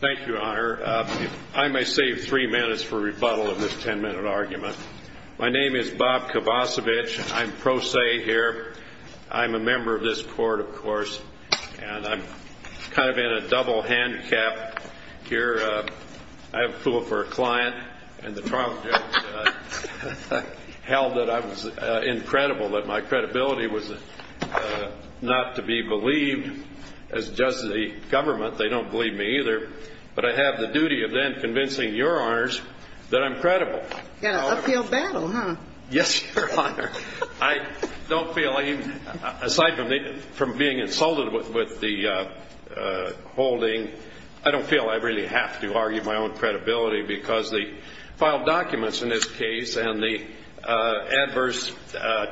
Thank you, Your Honor. I may save three minutes for rebuttal of this ten-minute argument. My name is Bob Kovacevich. I'm pro se here. I'm a member of this court, of course, and I'm kind of in a double-handcap here. I have approval for a client, and the trial judge held that I was incredible, that my credibility was not to be believed as does the government. They don't believe me either. But I have the duty of then convincing Your Honors that I'm credible. A field battle, huh? Yes, Your Honor. Aside from being insulted with the holding, I don't feel I really have to argue my own credibility because the filed documents in this case and the adverse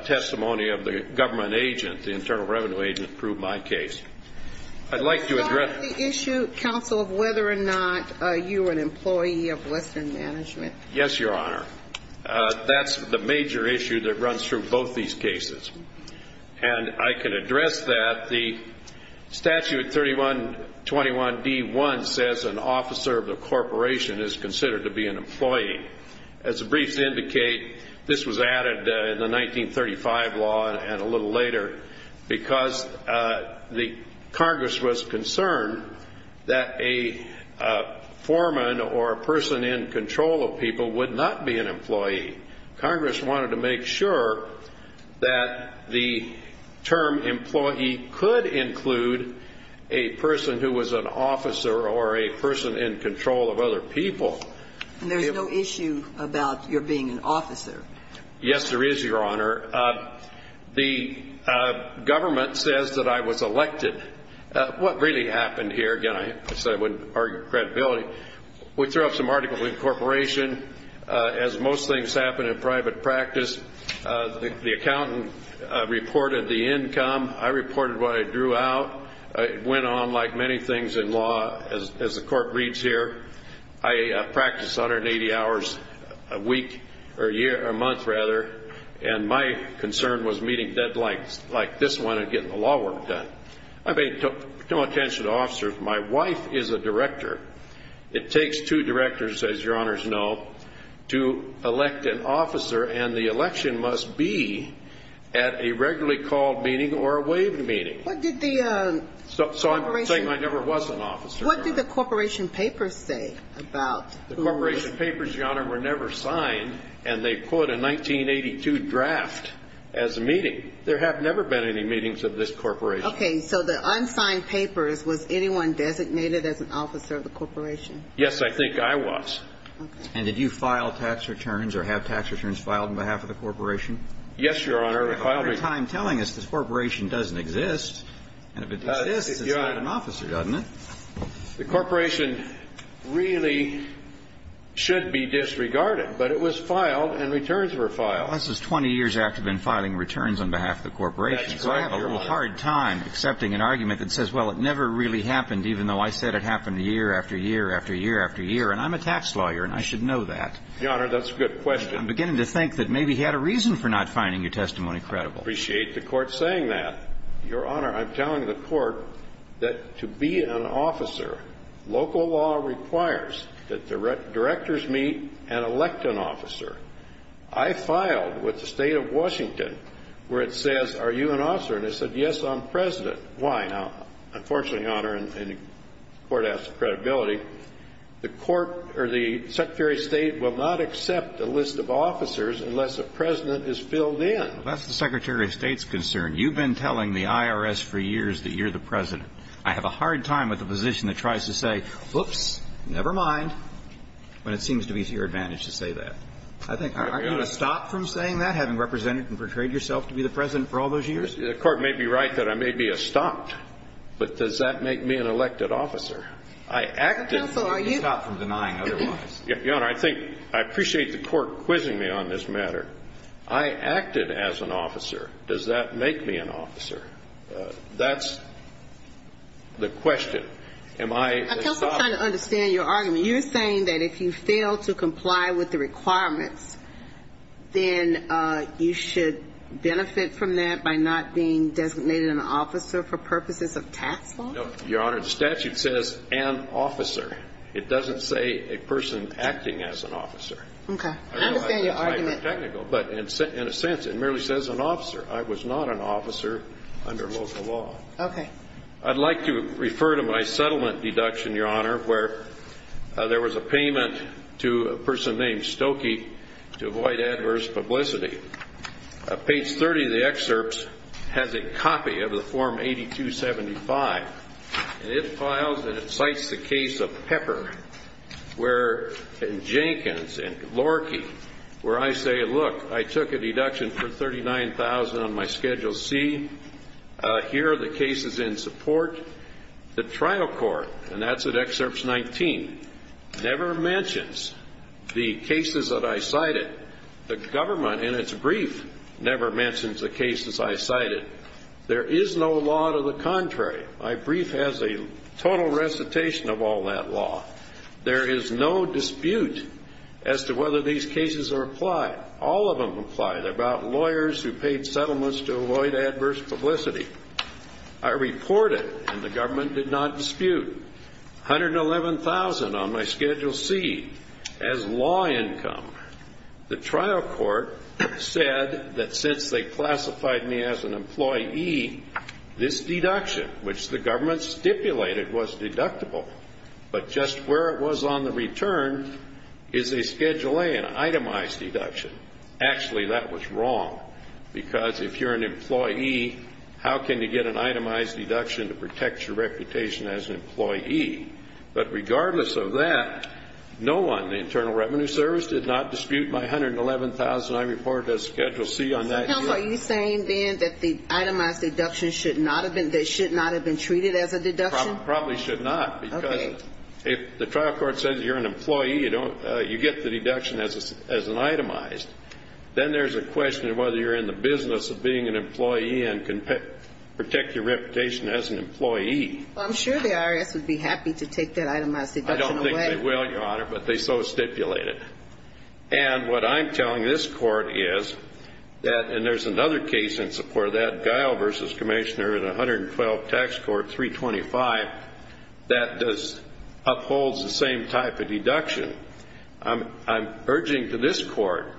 testimony of the government agent, the Internal Revenue agent, proved my case. I'd like to address So it's not the issue, counsel, of whether or not you were an employee of Western Mgmt. Yes, Your Honor. That's the major issue that runs through both these cases. And I can address that. The statute 3121d.1 says an officer of the corporation is considered to be an employee. As the briefs indicate, this was added in the 1935 law and a little later because Congress was concerned that a foreman or a person in control of people would not be an employee. Congress wanted to make sure that the term employee could include a person who was an officer or a person in control of other people. And there's no issue about your being an officer. Yes, there is, Your Honor. The government says that I was elected. What really happened here, again, I said I wouldn't argue credibility, we threw up some articles in the corporation. As most things happen in private practice, the accountant reported the income. I reported what I drew out. It went on like many things in law. As the court reads here, I practice 180 hours a week or a month, rather, and my concern was meeting deadlines like this one and getting the law work done. I paid no attention to officers. My wife is a director. It takes two directors, as Your Honors know, to elect an officer, and the election must be at a regularly called meeting or a waived meeting. What did the corporation do? So I'm saying I never was an officer. What did the corporation papers say about who was? The corporation papers, Your Honor, were never signed, and they put a 1982 draft as a meeting. There have never been any meetings of this corporation. Okay. So the unsigned papers, was anyone designated as an officer of the corporation? Yes, I think I was. And did you file tax returns or have tax returns filed on behalf of the corporation? Yes, Your Honor. You have a hard time telling us this corporation doesn't exist, and if it exists, it's not an officer, doesn't it? The corporation really should be disregarded, but it was filed and returns were filed. Well, this is 20 years after I've been filing returns on behalf of the corporation. That's right, Your Honor. So I have a little hard time accepting an argument that says, well, it never really happened, even though I said it happened year after year after year after year, and I'm a tax lawyer, and I should know that. Your Honor, that's a good question. I'm beginning to think that maybe he had a reason for not finding your testimony credible. I appreciate the Court saying that. Your Honor, I'm telling the Court that to be an officer, local law requires that directors meet and elect an officer. I filed with the State of Washington where it says, are you an officer? And they said, yes, I'm President. Why? Now, unfortunately, Your Honor, and the Court asks for credibility, the Court or the Secretary of State will not accept a list of officers unless a President is filled in. Well, that's the Secretary of State's concern. You've been telling the IRS for years that you're the President. I have a hard time with a position that tries to say, whoops, never mind, when it seems to be to your advantage to say that. Aren't you going to stop from saying that, having represented and portrayed yourself to be the President for all those years? The Court may be right that I may be a stop, but does that make me an elected officer? I acted. Counsel, are you going to stop from denying otherwise? Your Honor, I think I appreciate the Court quizzing me on this matter. I acted as an officer. Does that make me an officer? That's the question. Am I a stop? Counsel, I'm trying to understand your argument. You're saying that if you fail to comply with the requirements, then you should benefit from that by not being designated an officer for purposes of tax law? No, Your Honor. The statute says an officer. It doesn't say a person acting as an officer. Okay. I understand your argument. But in a sense, it merely says an officer. I was not an officer under local law. Okay. I'd like to refer to my settlement deduction, Your Honor, where there was a payment to a person named Stokey to avoid adverse publicity. Page 30 of the excerpt has a copy of the Form 8275. And it files and it cites the case of Pepper and Jenkins and Lorkey where I say, look, I took a deduction for $39,000 on my Schedule C. Here are the cases in support. The trial court, and that's at Excerpt 19, never mentions the cases that I cited. The government, in its brief, never mentions the cases I cited. There is no law to the contrary. My brief has a total recitation of all that law. There is no dispute as to whether these cases are applied. All of them apply. They're about lawyers who paid settlements to avoid adverse publicity. I reported, and the government did not dispute, $111,000 on my Schedule C as law income. The trial court said that since they classified me as an employee, this deduction, which the government stipulated, was deductible. But just where it was on the return is a Schedule A, an itemized deduction. Actually, that was wrong. Because if you're an employee, how can you get an itemized deduction to protect your reputation as an employee? But regardless of that, no one, the Internal Revenue Service, did not dispute my $111,000. I reported as Schedule C on that. Counsel, are you saying, then, that the itemized deduction should not have been, that it should not have been treated as a deduction? Probably should not. Okay. If the trial court says you're an employee, you get the deduction as an itemized, then there's a question of whether you're in the business of being an employee and can protect your reputation as an employee. I'm sure the IRS would be happy to take that itemized deduction away. I don't think they will, Your Honor, but they so stipulate it. And what I'm telling this Court is that, and there's another case in support of that, in 112 Tax Court 325, that does, upholds the same type of deduction. I'm urging to this Court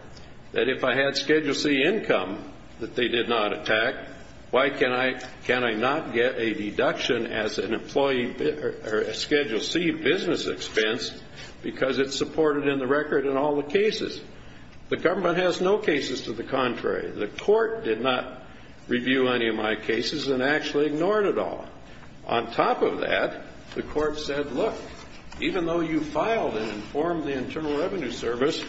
that if I had Schedule C income that they did not attack, why can I not get a deduction as an employee, or a Schedule C business expense, because it's supported in the record in all the cases? The government has no cases to the contrary. The Court did not review any of my cases and actually ignored it all. On top of that, the Court said, look, even though you filed and informed the Internal Revenue Service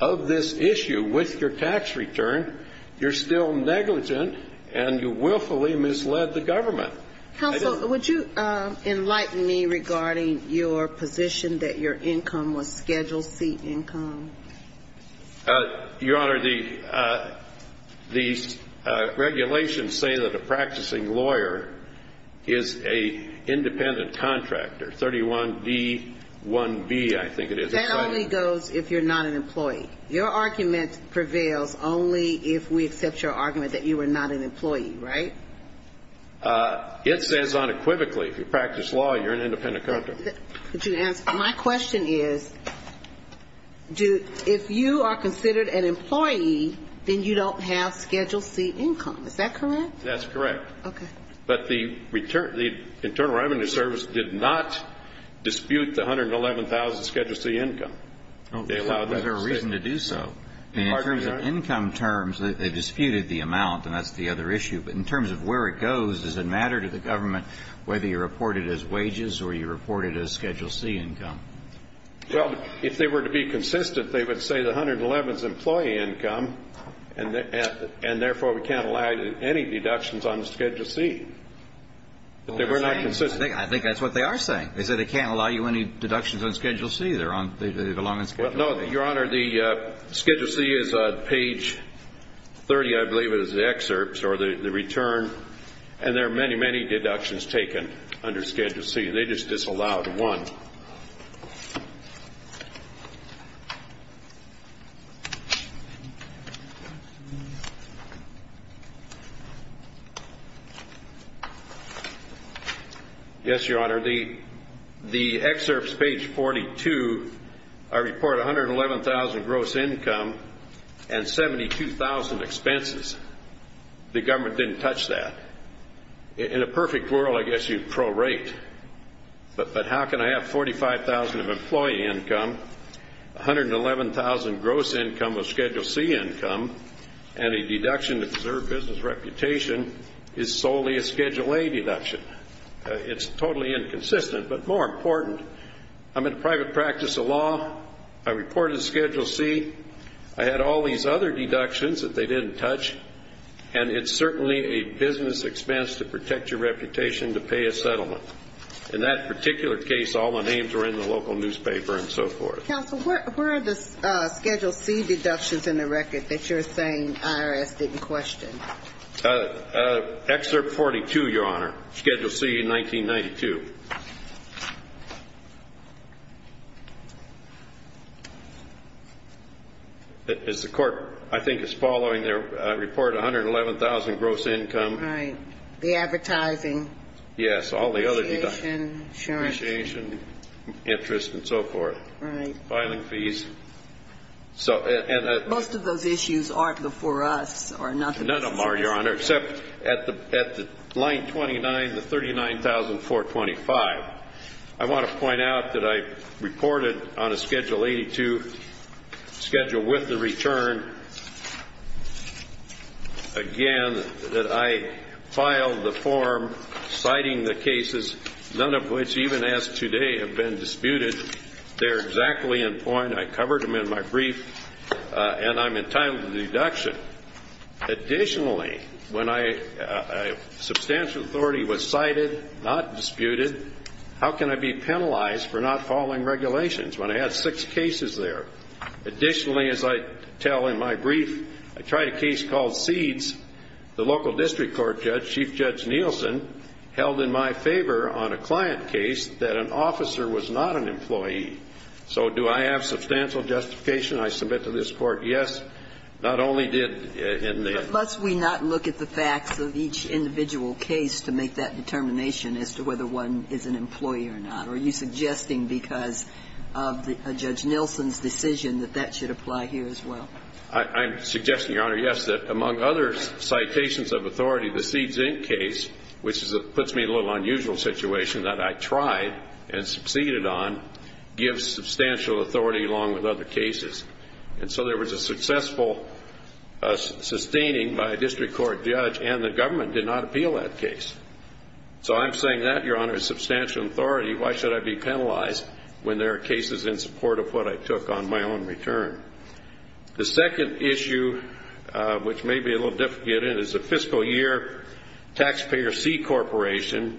of this issue with your tax return, you're still negligent and you willfully misled the government. Counsel, would you enlighten me regarding your position that your income was Schedule C income? Your Honor, the regulations say that a practicing lawyer is an independent contractor. 31D1B, I think it is. That only goes if you're not an employee. Your argument prevails only if we accept your argument that you are not an employee, right? It stands unequivocally. If you practice law, you're an independent contractor. My question is, if you are considered an employee, then you don't have Schedule C income. Is that correct? That's correct. Okay. But the Internal Revenue Service did not dispute the $111,000 Schedule C income. Was there a reason to do so? In terms of income terms, they disputed the amount, and that's the other issue. But in terms of where it goes, does it matter to the government whether you're reported as wages or you're reported as Schedule C income? Well, if they were to be consistent, they would say the $111,000 is employee income, and therefore we can't allow you any deductions on Schedule C. But they were not consistent. I think that's what they are saying. They said they can't allow you any deductions on Schedule C. They belong on Schedule C. Well, no, Your Honor, the Schedule C is on page 30, I believe, is the excerpts or the return, and there are many, many deductions taken under Schedule C. They just disallowed one. Yes, Your Honor. The excerpts, page 42, report $111,000 gross income and $72,000 expenses. The government didn't touch that. In a perfect world, I guess you'd pro-rate. But how can I have $45,000 of employee income, $111,000 gross income of Schedule C income, and a deduction to preserve business reputation is solely a Schedule A deduction? It's totally inconsistent. But more important, I'm in private practice of law. I reported as Schedule C. I had all these other deductions that they didn't touch, and it's certainly a business expense to protect your reputation to pay a settlement. In that particular case, all the names were in the local newspaper and so forth. Counsel, where are the Schedule C deductions in the record that you're saying IRS didn't question? Excerpt 42, Your Honor, Schedule C, 1992. As the court, I think, is following their report, $111,000 gross income. Right. The advertising. Yes, all the other deductions. Appreciation, insurance. Appreciation, interest and so forth. Right. Filing fees. Most of those issues aren't before us or nothing. None of them are, Your Honor, except at line 29, the $39,424. I want to point out that I reported on a Schedule 82 schedule with the return, again, that I filed the form citing the cases, none of which even as of today have been disputed. They're exactly in point. I covered them in my brief, and I'm entitled to the deduction. Additionally, when substantial authority was cited, not disputed, how can I be penalized for not following regulations when I had six cases there? Additionally, as I tell in my brief, I tried a case called Seeds. The local district court judge, Chief Judge Nielsen, held in my favor on a client case that an officer was not an employee. So do I have substantial justification? I submit to this court, yes. Not only did in the ---- But must we not look at the facts of each individual case to make that determination as to whether one is an employee or not? Are you suggesting because of Judge Nielsen's decision that that should apply here as well? I'm suggesting, Your Honor, yes, that among other citations of authority, the Seeds, Inc. case, which puts me in a little unusual situation that I tried and succeeded on, gives substantial authority along with other cases. And so there was a successful sustaining by a district court judge and the government did not appeal that case. So I'm saying that, Your Honor, is substantial authority. Why should I be penalized when there are cases in support of what I took on my own return? The second issue, which may be a little difficult to get in, is the fiscal year, Taxpayer C Corporation.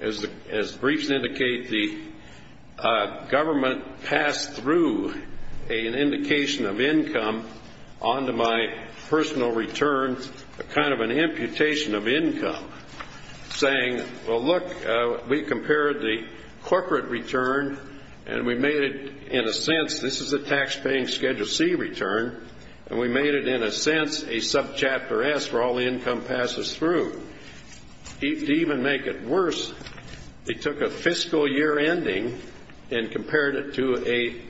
As briefs indicate, the government passed through an indication of income onto my personal return, a kind of an imputation of income, saying, well, look, we compared the corporate return and we made it, in a sense, this is a taxpaying Schedule C return, and we made it, in a sense, a subchapter S where all the income passes through. To even make it worse, they took a fiscal year ending and compared it to a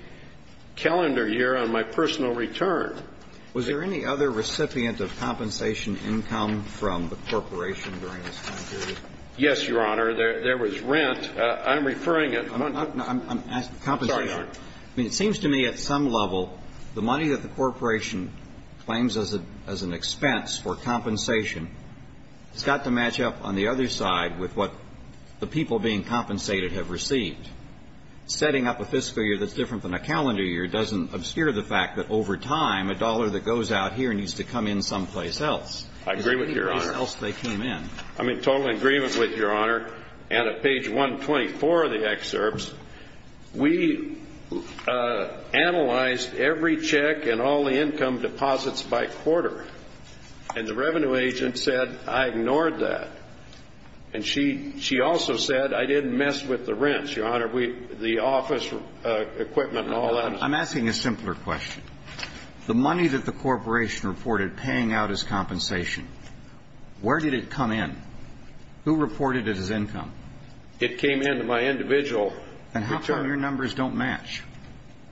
calendar year on my personal return. Was there any other recipient of compensation income from the corporation during this time period? Yes, Your Honor. There was rent. I'm referring at the moment to the compensation. I'm sorry, Your Honor. I mean, it seems to me at some level the money that the corporation claims as an expense for compensation has got to match up on the other side with what the people being compensated have received. Setting up a fiscal year that's different than a calendar year doesn't obscure the fact that over time a dollar that goes out here needs to come in someplace else. I agree with you, Your Honor. Anyplace else they came in. I'm in total agreement with you, Your Honor. And at page 124 of the excerpts, we analyzed every check and all the income deposits by quarter. And the revenue agent said, I ignored that. And she also said, I didn't mess with the rents, Your Honor, the office equipment and all that. I'm asking a simpler question. The money that the corporation reported paying out as compensation, where did it come in? Who reported it as income? It came in to my individual. And how come your numbers don't match?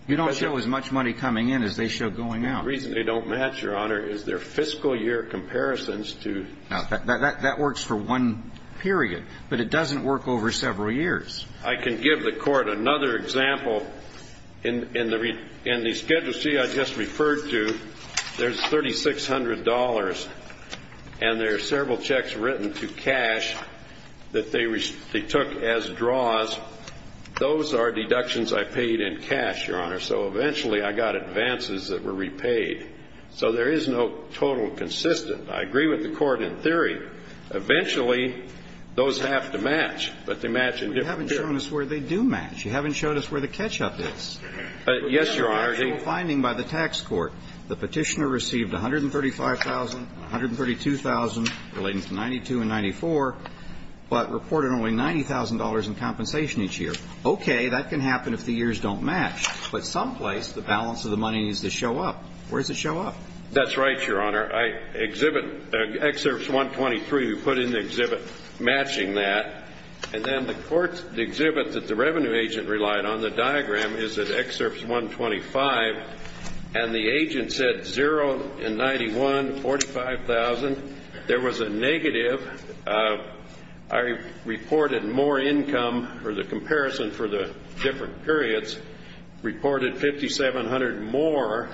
You don't show as much money coming in as they show going out. The reason they don't match, Your Honor, is their fiscal year comparisons to. That works for one period. But it doesn't work over several years. I can give the Court another example. In the Schedule C I just referred to, there's $3,600. And there are several checks written to cash that they took as draws. Those are deductions I paid in cash, Your Honor. So eventually, I got advances that were repaid. So there is no total consistent. I agree with the Court in theory. Eventually, those have to match. But they match in different periods. You haven't shown us where they do match. You haven't shown us where the catch-up is. Yes, Your Honor. The actual finding by the tax court, the petitioner received $135,000 and $132,000 relating to $92,000 and $94,000, but reported only $90,000 in compensation each year. Okay, that can happen if the years don't match. But someplace, the balance of the money needs to show up. Where does it show up? That's right, Your Honor. Excerpt 123, we put in the exhibit matching that. And then the exhibit that the revenue agent relied on, the diagram, is at excerpt 125, and the agent said zero in 91, $45,000. There was a negative. I reported more income for the comparison for the different periods, reported $5,700 more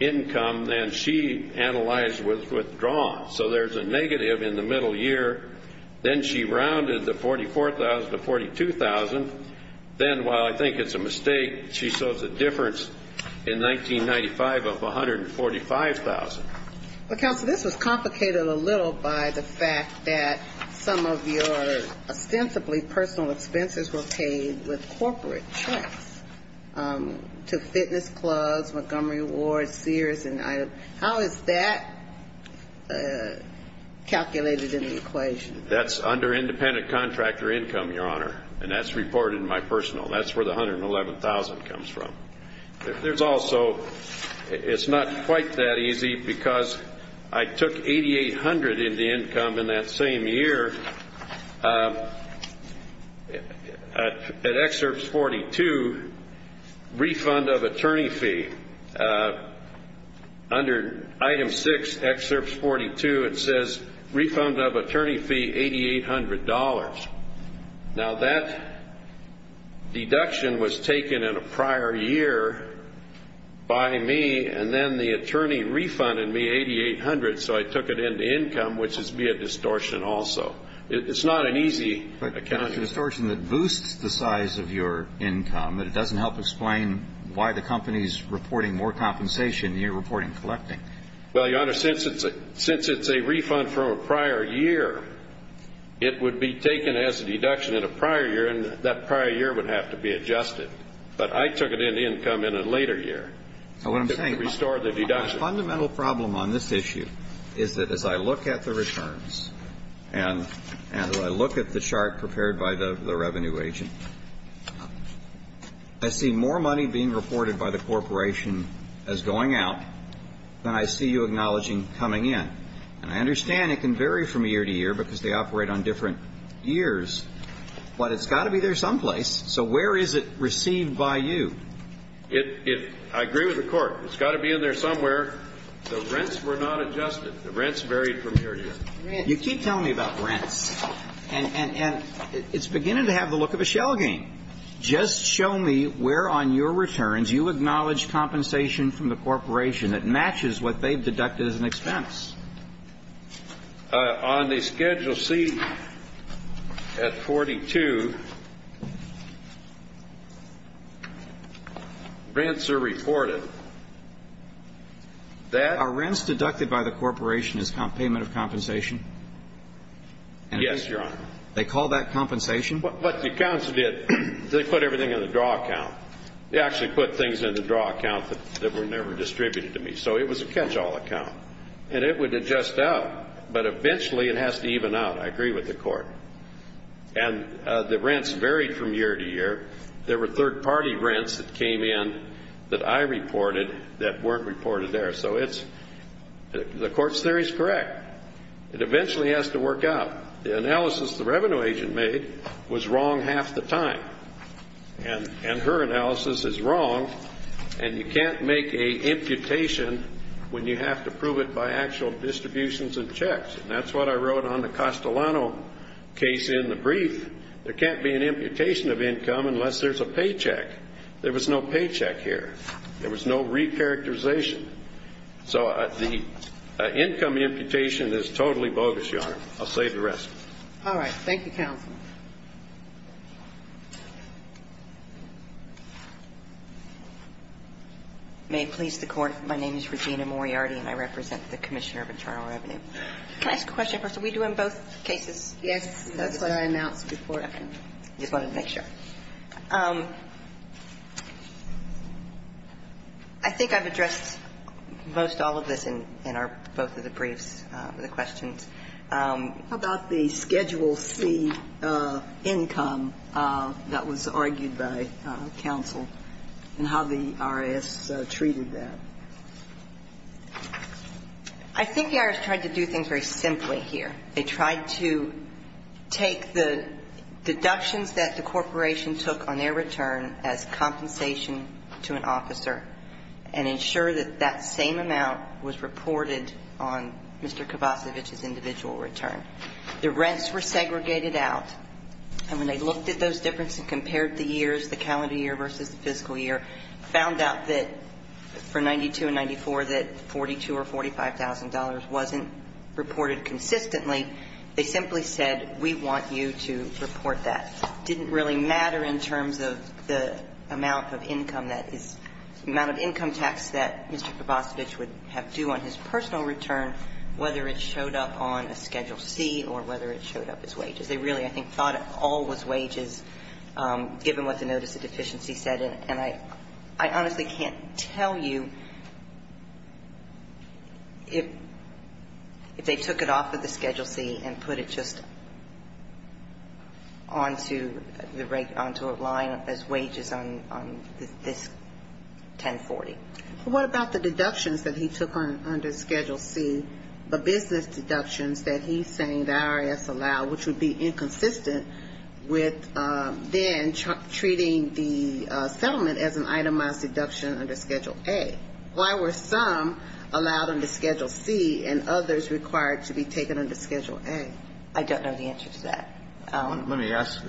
income than she analyzed with withdrawals. So there's a negative in the middle year. Then she rounded the $44,000 to $42,000. Then, while I think it's a mistake, she shows a difference in 1995 of $145,000. Well, Counsel, this was complicated a little by the fact that some of your ostensibly personal expenses were paid with corporate checks to fitness clubs, Montgomery Ward, Sears. How is that calculated in the equation? That's under independent contractor income, Your Honor, and that's reported in my personal. That's where the $111,000 comes from. There's also, it's not quite that easy because I took $8,800 in the income in that same year. At excerpt 42, refund of attorney fee. Under item 6, excerpt 42, it says refund of attorney fee, $8,800. Now, that deduction was taken in a prior year by me, and then the attorney refunded me $8,800, so I took it into income, which is via distortion also. It's not an easy account. But it's a distortion that boosts the size of your income, but it doesn't help explain why the company's reporting more compensation than you're reporting collecting. Well, Your Honor, since it's a refund from a prior year, it would be taken as a deduction in a prior year, and that prior year would have to be adjusted. But I took it into income in a later year to restore the deduction. Now, what I'm saying, a fundamental problem on this issue is that as I look at the returns and I look at the chart prepared by the revenue agent, I see more money being reported by the corporation as going out than I see you acknowledging coming in. And I understand it can vary from year to year because they operate on different years, but it's got to be there someplace. So where is it received by you? I agree with the Court. It's got to be in there somewhere. The rents were not adjusted. The rents varied from year to year. Rents. You keep telling me about rents. And it's beginning to have the look of a shell game. Just show me where on your returns you acknowledge compensation from the corporation that matches what they've deducted as an expense. On the Schedule C at 42, rents are reported. Are rents deducted by the corporation as payment of compensation? Yes, Your Honor. They call that compensation? What the accounts did, they put everything in the draw account. They actually put things in the draw account that were never distributed to me. So it was a catch-all account. And it would adjust out, but eventually it has to even out. I agree with the Court. And the rents varied from year to year. There were third-party rents that came in that I reported that weren't reported there. So the Court's theory is correct. It eventually has to work out. The analysis the revenue agent made was wrong half the time. And her analysis is wrong. And you can't make an imputation when you have to prove it by actual distributions and checks. And that's what I wrote on the Castellano case in the brief. There can't be an imputation of income unless there's a paycheck. There was no paycheck here. There was no recharacterization. So the income imputation is totally bogus, Your Honor. I'll save the rest. All right. Thank you, counsel. May it please the Court. My name is Regina Moriarty, and I represent the Commissioner of Internal Revenue. Can I ask a question? Are we doing both cases? Yes. That's what I announced before. Okay. I just wanted to make sure. I think I've addressed most all of this in our both of the briefs, the questions. How about the Schedule C income that was argued by counsel and how the IRS treated that? I think the IRS tried to do things very simply here. They tried to take the deductions that the corporation took on their return as compensation to an officer and ensure that that same amount was reported on Mr. Kovacevic's individual return. The rents were segregated out, and when they looked at those differences and compared the years, the calendar year versus the fiscal year, found out that for 92 and 94, that $42,000 or $45,000 wasn't reported consistently, they simply said, we want you to report that. It didn't really matter in terms of the amount of income that is the amount of income tax that Mr. Kovacevic would have due on his personal return, whether it showed up on a Schedule C or whether it showed up as wages. They really, I think, thought it all was wages, given what the notice of deficiency said, and I honestly can't tell you if they took it off of the Schedule C and put it just onto a line as wages on this 1040. What about the deductions that he took under Schedule C, the business deductions that he's saying the IRS allowed, which would be inconsistent with then treating the settlement as an itemized deduction under Schedule A? Why were some allowed under Schedule C and others required to be taken under Schedule A? I don't know the answer to that. Let me ask,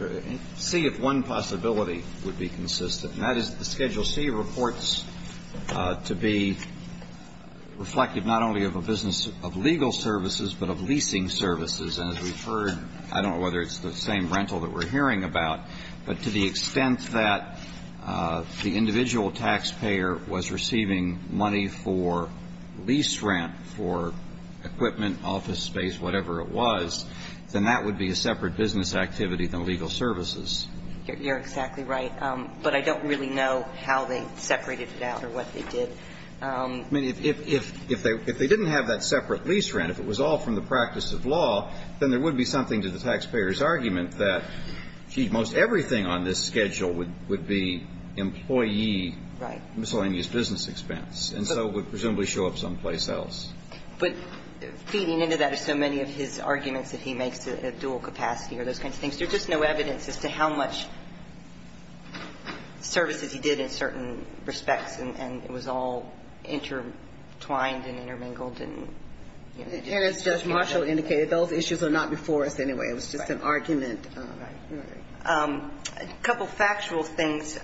see if one possibility would be consistent, and that is the Schedule C reports to be reflective not only of a business of legal services, but of leasing services. And as we've heard, I don't know whether it's the same rental that we're hearing about, but to the extent that the individual taxpayer was receiving money for lease rent for equipment, office space, whatever it was, then that would be a separate business activity than legal services. You're exactly right. But I don't really know how they separated it out or what they did. I mean, if they didn't have that separate lease rent, if it was all from the practice of law, then there would be something to the taxpayer's argument that, gee, most everything on this schedule would be employee miscellaneous business expense, and so would presumably show up someplace else. But feeding into that are so many of his arguments that he makes a dual capacity or those kinds of things. There's just no evidence as to how much services he did in certain respects, and it was all intertwined and intermingled. And as Judge Marshall indicated, those issues are not before us anyway. It was just an argument. Right. A couple factual things.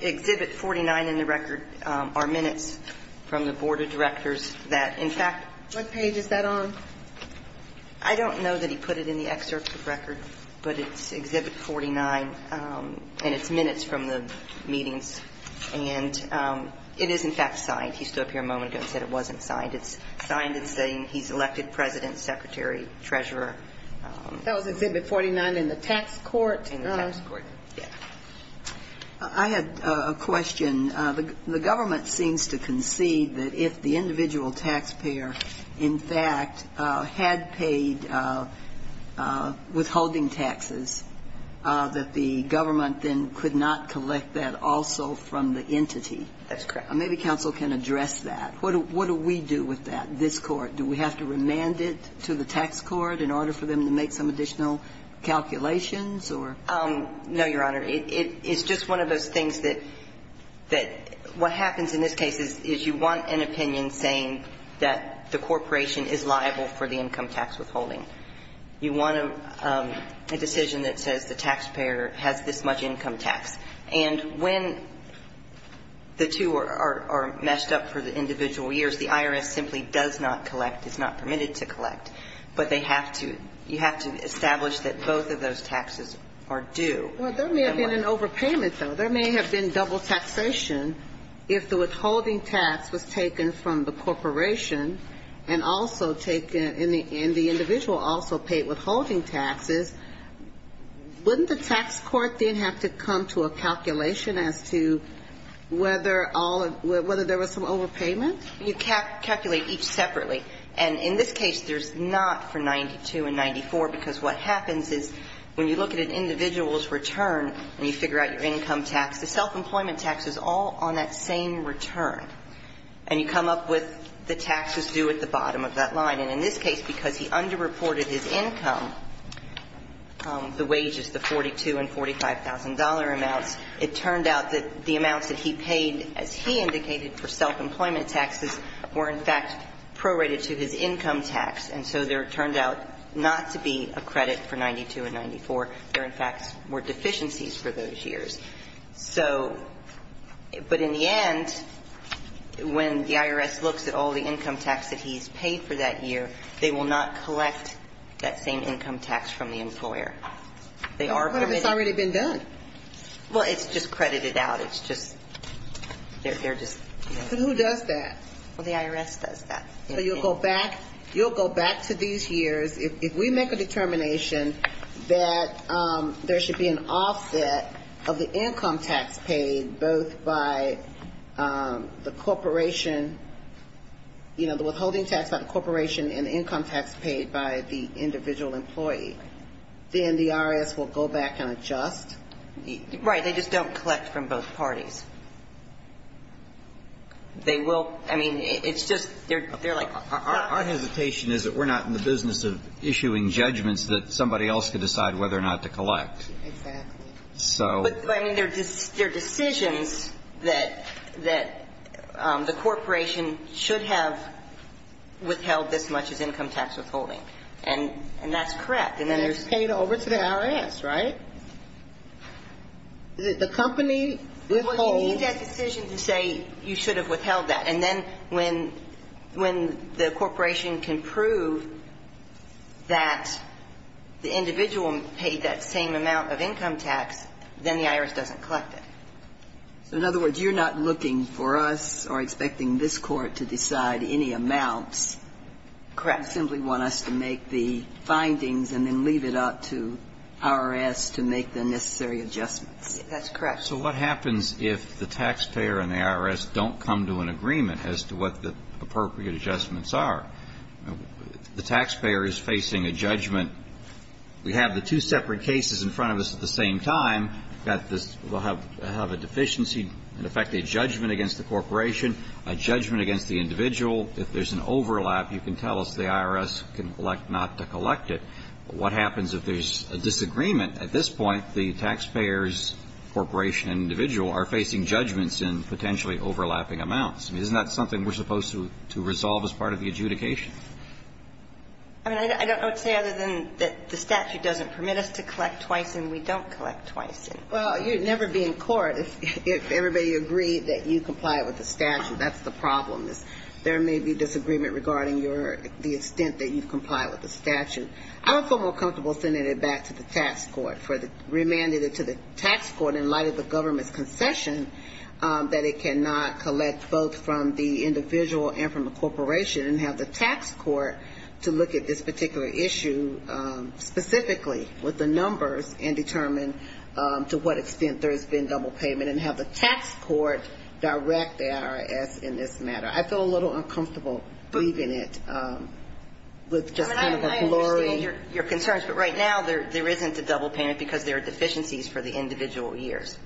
Exhibit 49 in the record are minutes from the Board of Directors that, in fact ---- What page is that on? I don't know that he put it in the excerpt of record, but it's Exhibit 49, and it's minutes from the meetings. And it is, in fact, signed. He stood up here a moment ago and said it wasn't signed. It's signed as saying he's elected President, Secretary, Treasurer. That was Exhibit 49 in the tax court. In the tax court, yes. I had a question. The government seems to concede that if the individual taxpayer, in fact, had paid withholding taxes, that the government then could not collect that also from the entity. That's correct. Maybe counsel can address that. What do we do with that, this Court? Do we have to remand it to the tax court in order for them to make some additional calculations, or? No, Your Honor. It's just one of those things that what happens in this case is you want an opinion saying that the corporation is liable for the income tax withholding. You want a decision that says the taxpayer has this much income tax. And when the two are messed up for the individual years, the IRS simply does not collect, is not permitted to collect. But they have to ---- you have to establish that both of those taxes are due. Well, there may have been an overpayment, though. There may have been double taxation. If the withholding tax was taken from the corporation and also taken and the individual also paid withholding taxes, wouldn't the tax court then have to come to a calculation as to whether all of ---- whether there was some overpayment? You calculate each separately. And in this case, there's not for 92 and 94, because what happens is when you look at an individual's return and you figure out your income tax, the self-employment tax is all on that same return. And you come up with the taxes due at the bottom of that line. And in this case, because he underreported his income, the wages, the 42 and $45,000 amounts, it turned out that the amounts that he paid, as he indicated, for self-employment taxes were in fact prorated to his income tax. And so there turned out not to be a credit for 92 and 94. There, in fact, were deficiencies for those years. So ---- but in the end, when the IRS looks at all the income tax that he's paid for that year, they will not collect that same income tax from the employer. They are going to ---- But it's already been done. Well, it's just credited out. It's just ---- they're just ---- But who does that? Well, the IRS does that. So you'll go back to these years. If we make a determination that there should be an offset of the income tax paid both by the corporation, you know, the withholding tax by the corporation and the income tax paid by the individual employee, then the IRS will go back and adjust? Right. They just don't collect from both parties. They will ---- I mean, it's just ---- they're like ---- Our hesitation is that we're not in the business of issuing judgments that somebody else could decide whether or not to collect. Exactly. So ---- But, I mean, they're decisions that the corporation should have withheld this much as income tax withholding. And that's correct. And then there's ---- It's paid over to the IRS, right? The company withholds ---- Well, you need that decision to say you should have withheld that. And then when the corporation can prove that the individual paid that same amount of income tax, then the IRS doesn't collect it. So, in other words, you're not looking for us or expecting this Court to decide any amounts. Correct. So you simply want us to make the findings and then leave it up to IRS to make the necessary adjustments. That's correct. So what happens if the taxpayer and the IRS don't come to an agreement as to what the appropriate adjustments are? The taxpayer is facing a judgment. We have the two separate cases in front of us at the same time. We've got this ---- we'll have a deficiency, in effect, a judgment against the corporation, a judgment against the individual. If there's an overlap, you can tell us the IRS can elect not to collect it. What happens if there's a disagreement? At this point, the taxpayer's corporation and individual are facing judgments in potentially overlapping amounts. I mean, isn't that something we're supposed to resolve as part of the adjudication? I mean, I don't know what to say other than that the statute doesn't permit us to collect twice and we don't collect twice. Well, you'd never be in court if everybody agreed that you comply with the statute. That's the problem. There may be disagreement regarding the extent that you comply with the statute. I would feel more comfortable sending it back to the tax court, remanding it to the tax court in light of the government's concession that it cannot collect both from the individual and from the corporation and have the tax court to look at this particular issue specifically with the numbers and determine to what extent there has been double payment and have the tax court direct the IRS in this matter. I feel a little uncomfortable believing it with just kind of a blurry. I understand your concerns. But right now, there isn't a double payment because there are deficiencies for the individual years.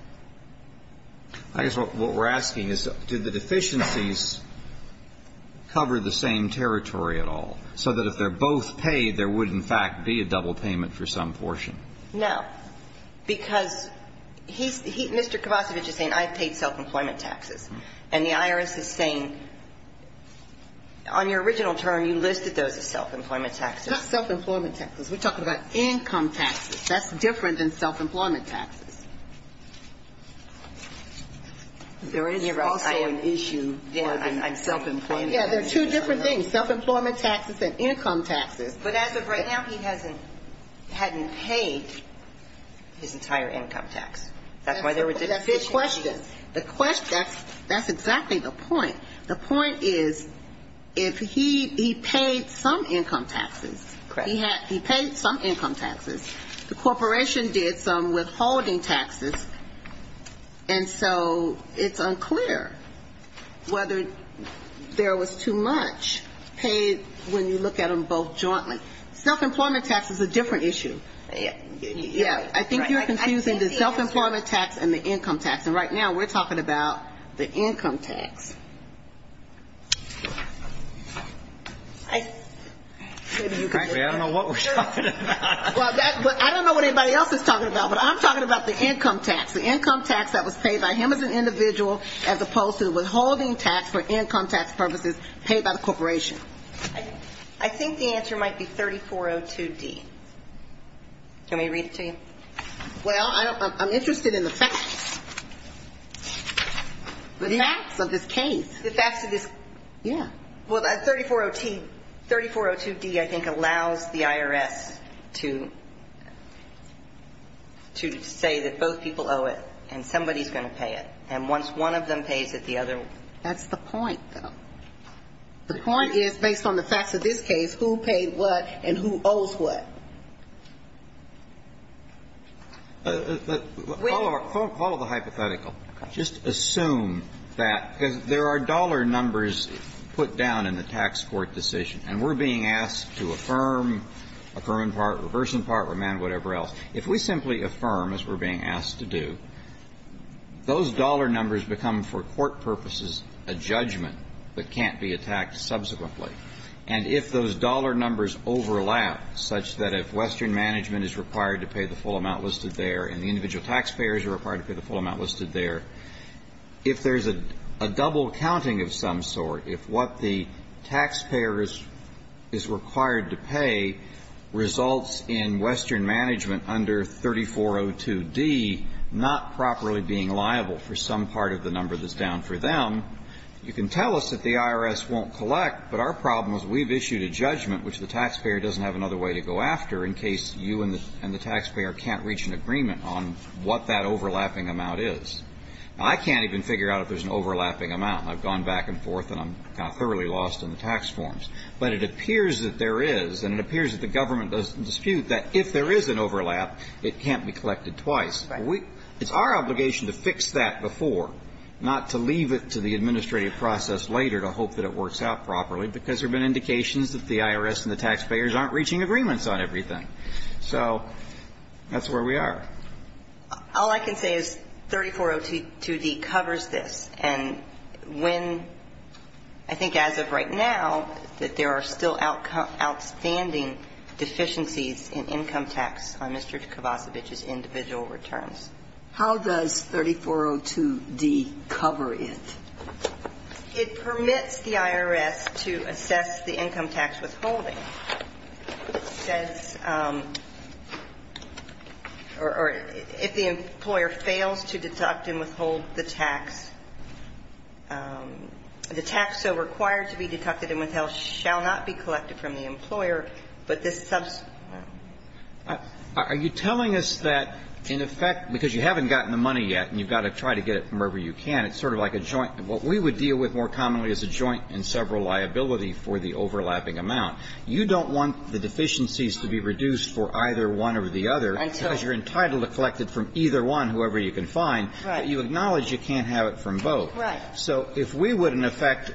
I guess what we're asking is, do the deficiencies cover the same territory at all, so that if they're both paid, there would, in fact, be a double payment for some portion? No. Because he's – Mr. Kovacevic is saying, I've paid self-employment taxes. And the IRS is saying, on your original term, you listed those as self-employment taxes. Not self-employment taxes. We're talking about income taxes. That's different than self-employment taxes. There is also an issue there than self-employment taxes. Yeah, there are two different things, self-employment taxes and income taxes. But as of right now, he hasn't – hadn't paid his entire income tax. That's why there were deficiencies. That's the question. That's exactly the point. The point is, if he – he paid some income taxes. Correct. He paid some income taxes. The corporation did some withholding taxes. And so it's unclear whether there was too much paid when you look at them both jointly. Self-employment tax is a different issue. Yeah. I think you're confusing the self-employment tax and the income tax. And right now, we're talking about the income tax. I don't know what we're talking about. Well, I don't know what anybody else is talking about, but I'm talking about the income tax. The income tax that was paid by him as an individual as opposed to the withholding tax for income tax purposes paid by the corporation. I think the answer might be 3402D. Can we read it to you? Well, I'm interested in the facts. The facts of this case. The facts of this – yeah. Well, 3402D, I think, allows the IRS to say that both people owe it and somebody's going to pay it. And once one of them pays it, the other will. That's the point, though. The point is, based on the facts of this case, who paid what and who owes what. Follow the hypothetical. Just assume that. Because there are dollar numbers put down in the tax court decision, and we're being asked to affirm, affirm in part, reverse in part, remand, whatever else. If we simply affirm, as we're being asked to do, those dollar numbers become, for court purposes, a judgment. But can't be attacked subsequently. And if those dollar numbers overlap such that if Western Management is required to pay the full amount listed there and the individual taxpayers are required to pay the full amount listed there, if there's a double counting of some sort, if what the taxpayer is required to pay results in Western Management under 3402D not properly being liable for some part of the number that's down for them, you can tell us that the IRS won't collect, but our problem is we've issued a judgment, which the taxpayer doesn't have another way to go after in case you and the taxpayer can't reach an agreement on what that overlapping amount is. Now, I can't even figure out if there's an overlapping amount. I've gone back and forth, and I'm kind of thoroughly lost in the tax forms. But it appears that there is, and it appears that the government doesn't dispute that if there is an overlap, it can't be collected twice. Right. It's our obligation to fix that before, not to leave it to the administrative process later to hope that it works out properly, because there have been indications that the IRS and the taxpayers aren't reaching agreements on everything. So that's where we are. All I can say is 3402D covers this. And when, I think as of right now, that there are still outstanding deficiencies in income tax on Mr. Kovacevic's individual returns. How does 3402D cover it? It permits the IRS to assess the income tax withholding. It says, or if the employer fails to deduct and withhold the tax, the tax so required to be deducted and withheld shall not be collected from the employer, but this Are you telling us that in effect, because you haven't gotten the money yet and you've got to try to get it from wherever you can, it's sort of like a joint. What we would deal with more commonly is a joint and several liability for the overlapping amount. You don't want the deficiencies to be reduced for either one or the other. Until. Because you're entitled to collect it from either one, whoever you can find. Right. But you acknowledge you can't have it from both. Right. So if we would, in effect,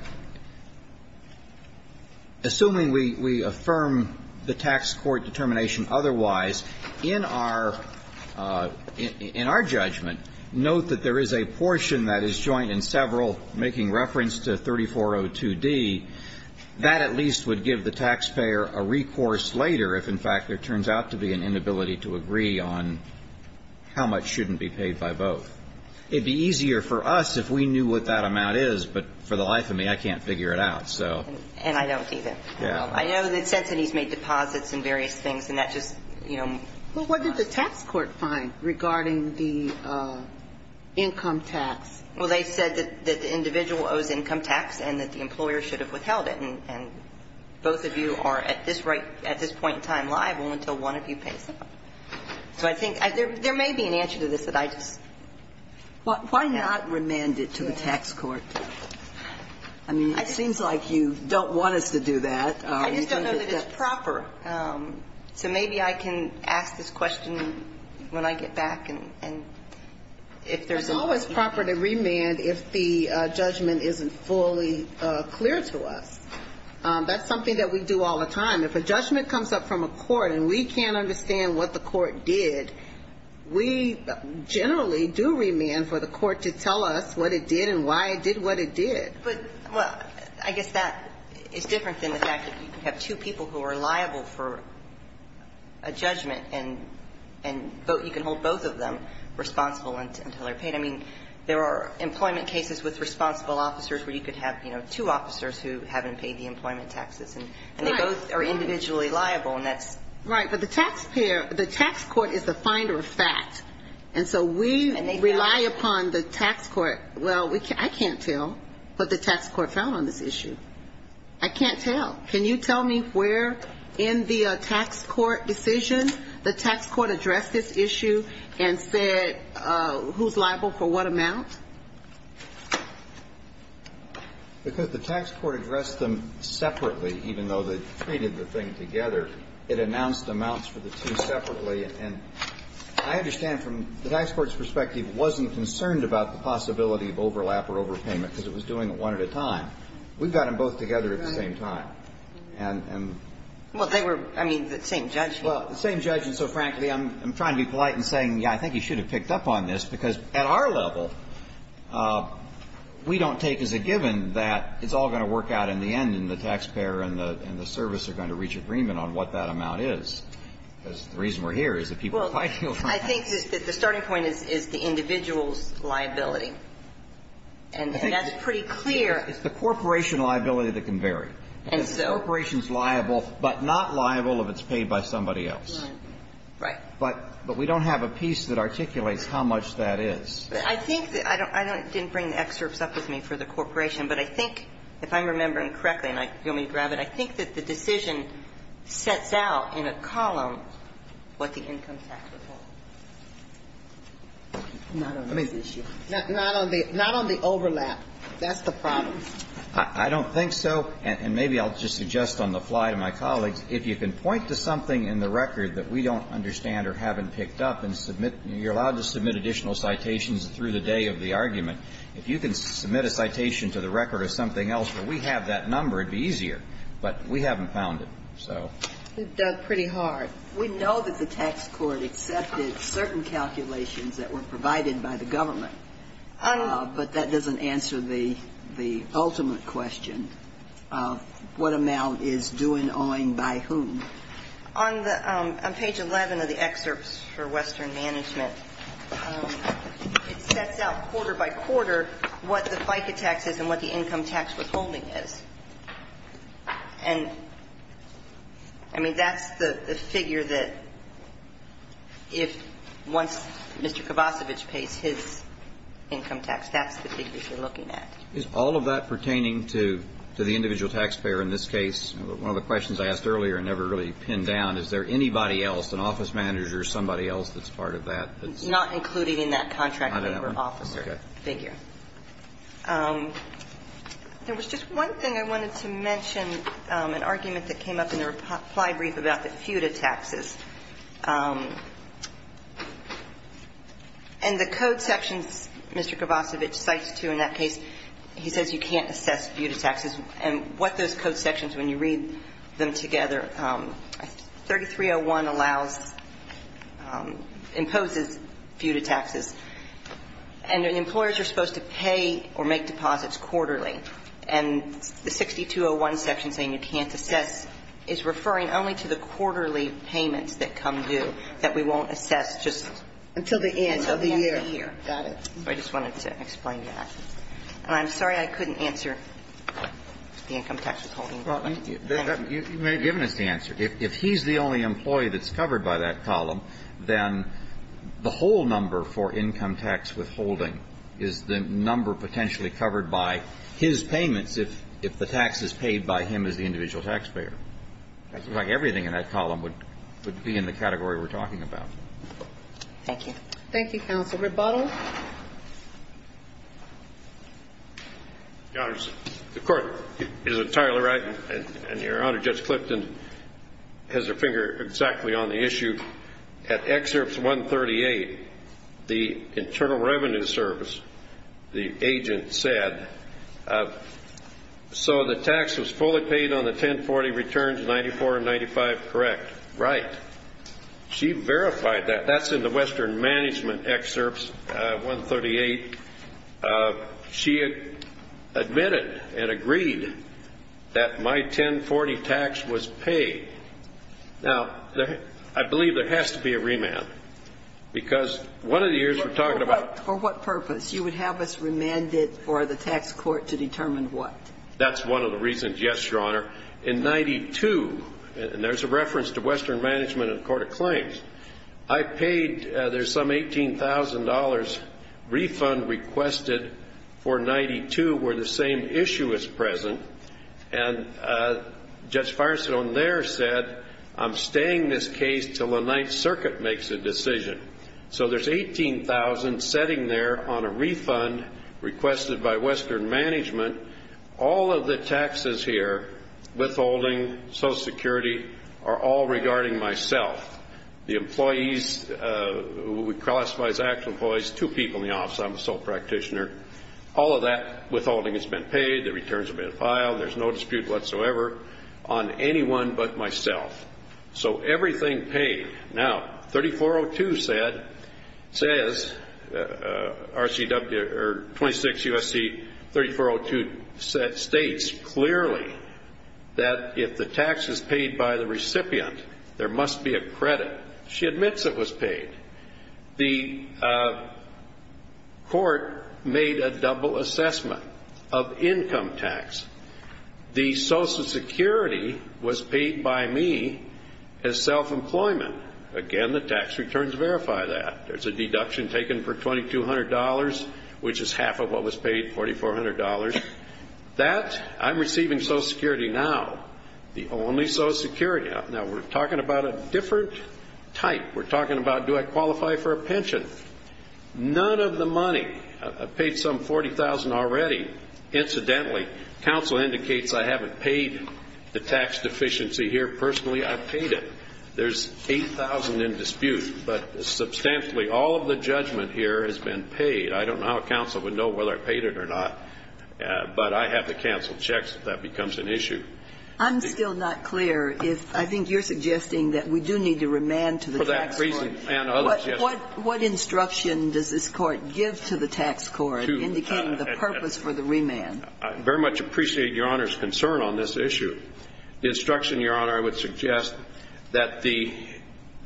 assuming we affirm the tax court determination otherwise, in our judgment, note that there is a portion that is joint and several, making reference to 3402D, that at least would give the taxpayer a recourse later if, in fact, there turns out to be an inability to agree on how much shouldn't be paid by both. It would be easier for us if we knew what that amount is. But for the life of me, I can't figure it out. And I don't either. Yeah. I know that Cincinnati has made deposits and various things, and that just. Well, what did the tax court find regarding the income tax? Well, they said that the individual owes income tax and that the employer should have withheld it. And both of you are at this point in time liable until one of you pays up. So I think there may be an answer to this that I just. Why not remand it to the tax court? I mean, it seems like you don't want us to do that. I just don't know that it's proper. So maybe I can ask this question when I get back and if there's a. It's always proper to remand if the judgment isn't fully clear to us. That's something that we do all the time. If a judgment comes up from a court and we can't understand what the court did, we generally do remand for the court to tell us what it did and why it did what it did. But, well, I guess that is different than the fact that you can have two people who are liable for a judgment and vote. You can hold both of them responsible until they're paid. I mean, there are employment cases with responsible officers where you could have, you know, two officers who haven't paid the employment taxes. And they both are individually liable. Right. But the taxpayer, the tax court is the finder of fact. And so we rely upon the tax court. Well, I can't tell what the tax court found on this issue. I can't tell. Can you tell me where in the tax court decision the tax court addressed this issue and said who's liable for what amount? Because the tax court addressed them separately, even though they treated the thing together. It announced amounts for the two separately. And I understand from the tax court's perspective it wasn't concerned about the possibility of overlap or overpayment because it was doing it one at a time. We've got them both together at the same time. And the same judge. Well, the same judge. And so, frankly, I'm trying to be polite in saying, yeah, I think he should have done that. We don't take as a given that it's all going to work out in the end and the taxpayer and the service are going to reach agreement on what that amount is. The reason we're here is that people are fighting over it. Well, I think the starting point is the individual's liability. And that's pretty clear. It's the corporation liability that can vary. And so? Because the corporation's liable but not liable if it's paid by somebody else. Right. But we don't have a piece that articulates how much that is. I think that I don't – I didn't bring the excerpts up with me for the corporation, but I think if I'm remembering correctly, and you'll let me grab it, I think that the decision sets out in a column what the income tax would be. Not on this issue. Not on the – not on the overlap. That's the problem. I don't think so. And maybe I'll just suggest on the fly to my colleagues, if you can point to something through the day of the argument, if you can submit a citation to the record of something else where we have that number, it would be easier. But we haven't found it, so. We've dug pretty hard. We know that the tax court accepted certain calculations that were provided by the government. But that doesn't answer the ultimate question of what amount is due and owing by whom. On the – on page 11 of the excerpts for Western Management, it sets out quarter by quarter what the FICA tax is and what the income tax withholding is. And, I mean, that's the figure that if – once Mr. Kovacevic pays his income tax, that's the figure you're looking at. Is all of that pertaining to the individual taxpayer in this case? One of the questions I asked earlier and never really pinned down, is there anybody else, an office manager, somebody else that's part of that? Not including in that contract labor officer figure. Okay. There was just one thing I wanted to mention, an argument that came up in the reply brief about the FUTA taxes. And the code sections Mr. Kovacevic cites, too, in that case, he says you can't assess FUTA taxes. And what those code sections, when you read them together, 3301 allows – imposes FUTA taxes. And employers are supposed to pay or make deposits quarterly. And the 6201 section saying you can't assess is referring only to the quarterly payments that come due that we won't assess just until the end of the year. Got it. I just wanted to explain that. I'm sorry I couldn't answer the income tax withholding. You may have given us the answer. If he's the only employee that's covered by that column, then the whole number for income tax withholding is the number potentially covered by his payments if the tax is paid by him as the individual taxpayer. Everything in that column would be in the category we're talking about. Thank you. Thank you, Counsel. Any further rebuttals? Your Honor, the Court is entirely right. And Your Honor, Judge Clifton has her finger exactly on the issue. At excerpt 138, the Internal Revenue Service, the agent said, so the tax was fully paid on the 1040 returns, 94 and 95 correct. Right. She verified that. That's in the Western Management excerpts, 138. She admitted and agreed that my 1040 tax was paid. Now, I believe there has to be a remand because one of the years we're talking about For what purpose? You would have us remanded for the tax court to determine what? And there's a reference to Western Management and the Court of Claims. I paid, there's some $18,000 refund requested for 92 where the same issue is present. And Judge Firestone there said, I'm staying this case until the Ninth Circuit makes a decision. So there's $18,000 sitting there on a refund requested by Western Management. All of the taxes here, withholding, Social Security, are all regarding myself. The employees who we classify as actual employees, two people in the office, I'm a sole practitioner. All of that withholding has been paid. The returns have been filed. There's no dispute whatsoever on anyone but myself. So everything paid. Now, 3402 says, 26 U.S.C. 3402 states clearly that if the tax is paid by the recipient, there must be a credit. She admits it was paid. The court made a double assessment of income tax. The Social Security was paid by me as self-employment. Again, the tax returns verify that. There's a deduction taken for $2,200, which is half of what was paid, $4,400. That, I'm receiving Social Security now. The only Social Security. Now, we're talking about a different type. We're talking about, do I qualify for a pension? None of the money. I've paid some $40,000 already, incidentally. Counsel indicates I haven't paid the tax deficiency here personally. I've paid it. There's $8,000 in dispute. But substantially, all of the judgment here has been paid. I don't know how counsel would know whether I paid it or not. But I have to counsel checks if that becomes an issue. I'm still not clear if I think you're suggesting that we do need to remand to the tax court. For that reason and others, yes. What instruction does this Court give to the tax court indicating the purpose for the remand? I very much appreciate Your Honor's concern on this issue. The instruction, Your Honor, I would suggest that the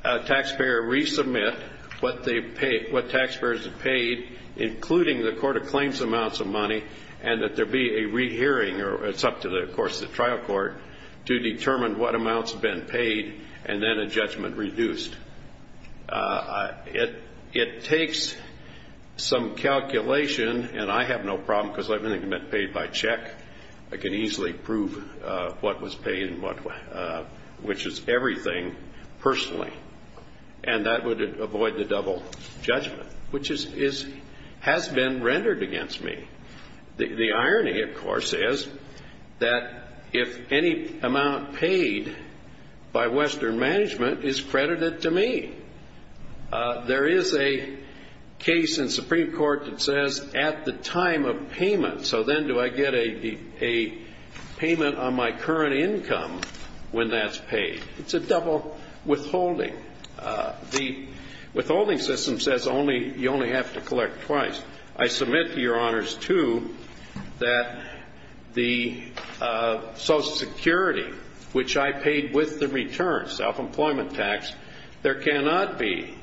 taxpayer resubmit what they've paid, what taxpayers have paid, including the court of claims amounts of money, and that there be a rehearing, or it's up to, of course, the trial court, to determine what amounts have been paid and then a judgment reduced. It takes some calculation, and I have no problem because I've only been paid by check. I can easily prove what was paid and which is everything personally. And that would avoid the double judgment, which has been rendered against me. The irony, of course, is that if any amount paid by Western Management is credited to me, there is a case in Supreme Court that says at the time of payment, so then do I get a payment on my current income when that's paid? It's a double withholding. The withholding system says only you only have to collect twice. I submit to Your Honors, too, that the Social Security, which I paid with the return, self-employment tax, there cannot be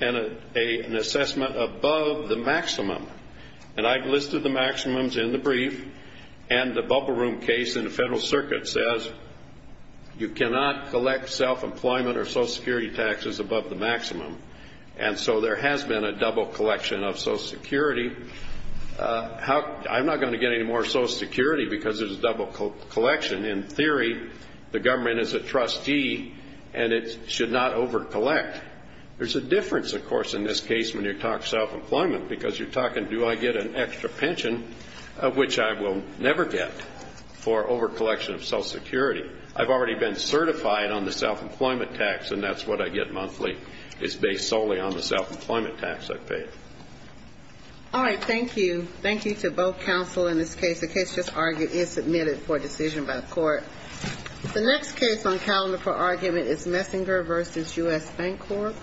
an assessment above the maximum. And I've listed the maximums in the brief, and the bubble room case in the Federal Circuit says you cannot collect self-employment or Social Security taxes above the maximum. And so there has been a double collection of Social Security. I'm not going to get any more Social Security because there's a double collection. In theory, the government is a trustee, and it should not over-collect. There's a difference, of course, in this case when you talk self-employment, because you're talking do I get an extra pension, of which I will never get, for over-collection of Social Security. I've already been certified on the self-employment tax, and that's what I get monthly. It's based solely on the self-employment tax I've paid. All right. Thank you. Thank you to both counsel in this case. The case just argued is submitted for decision by the court. The next case on calendar for argument is Messinger v. U.S. Bank Corp.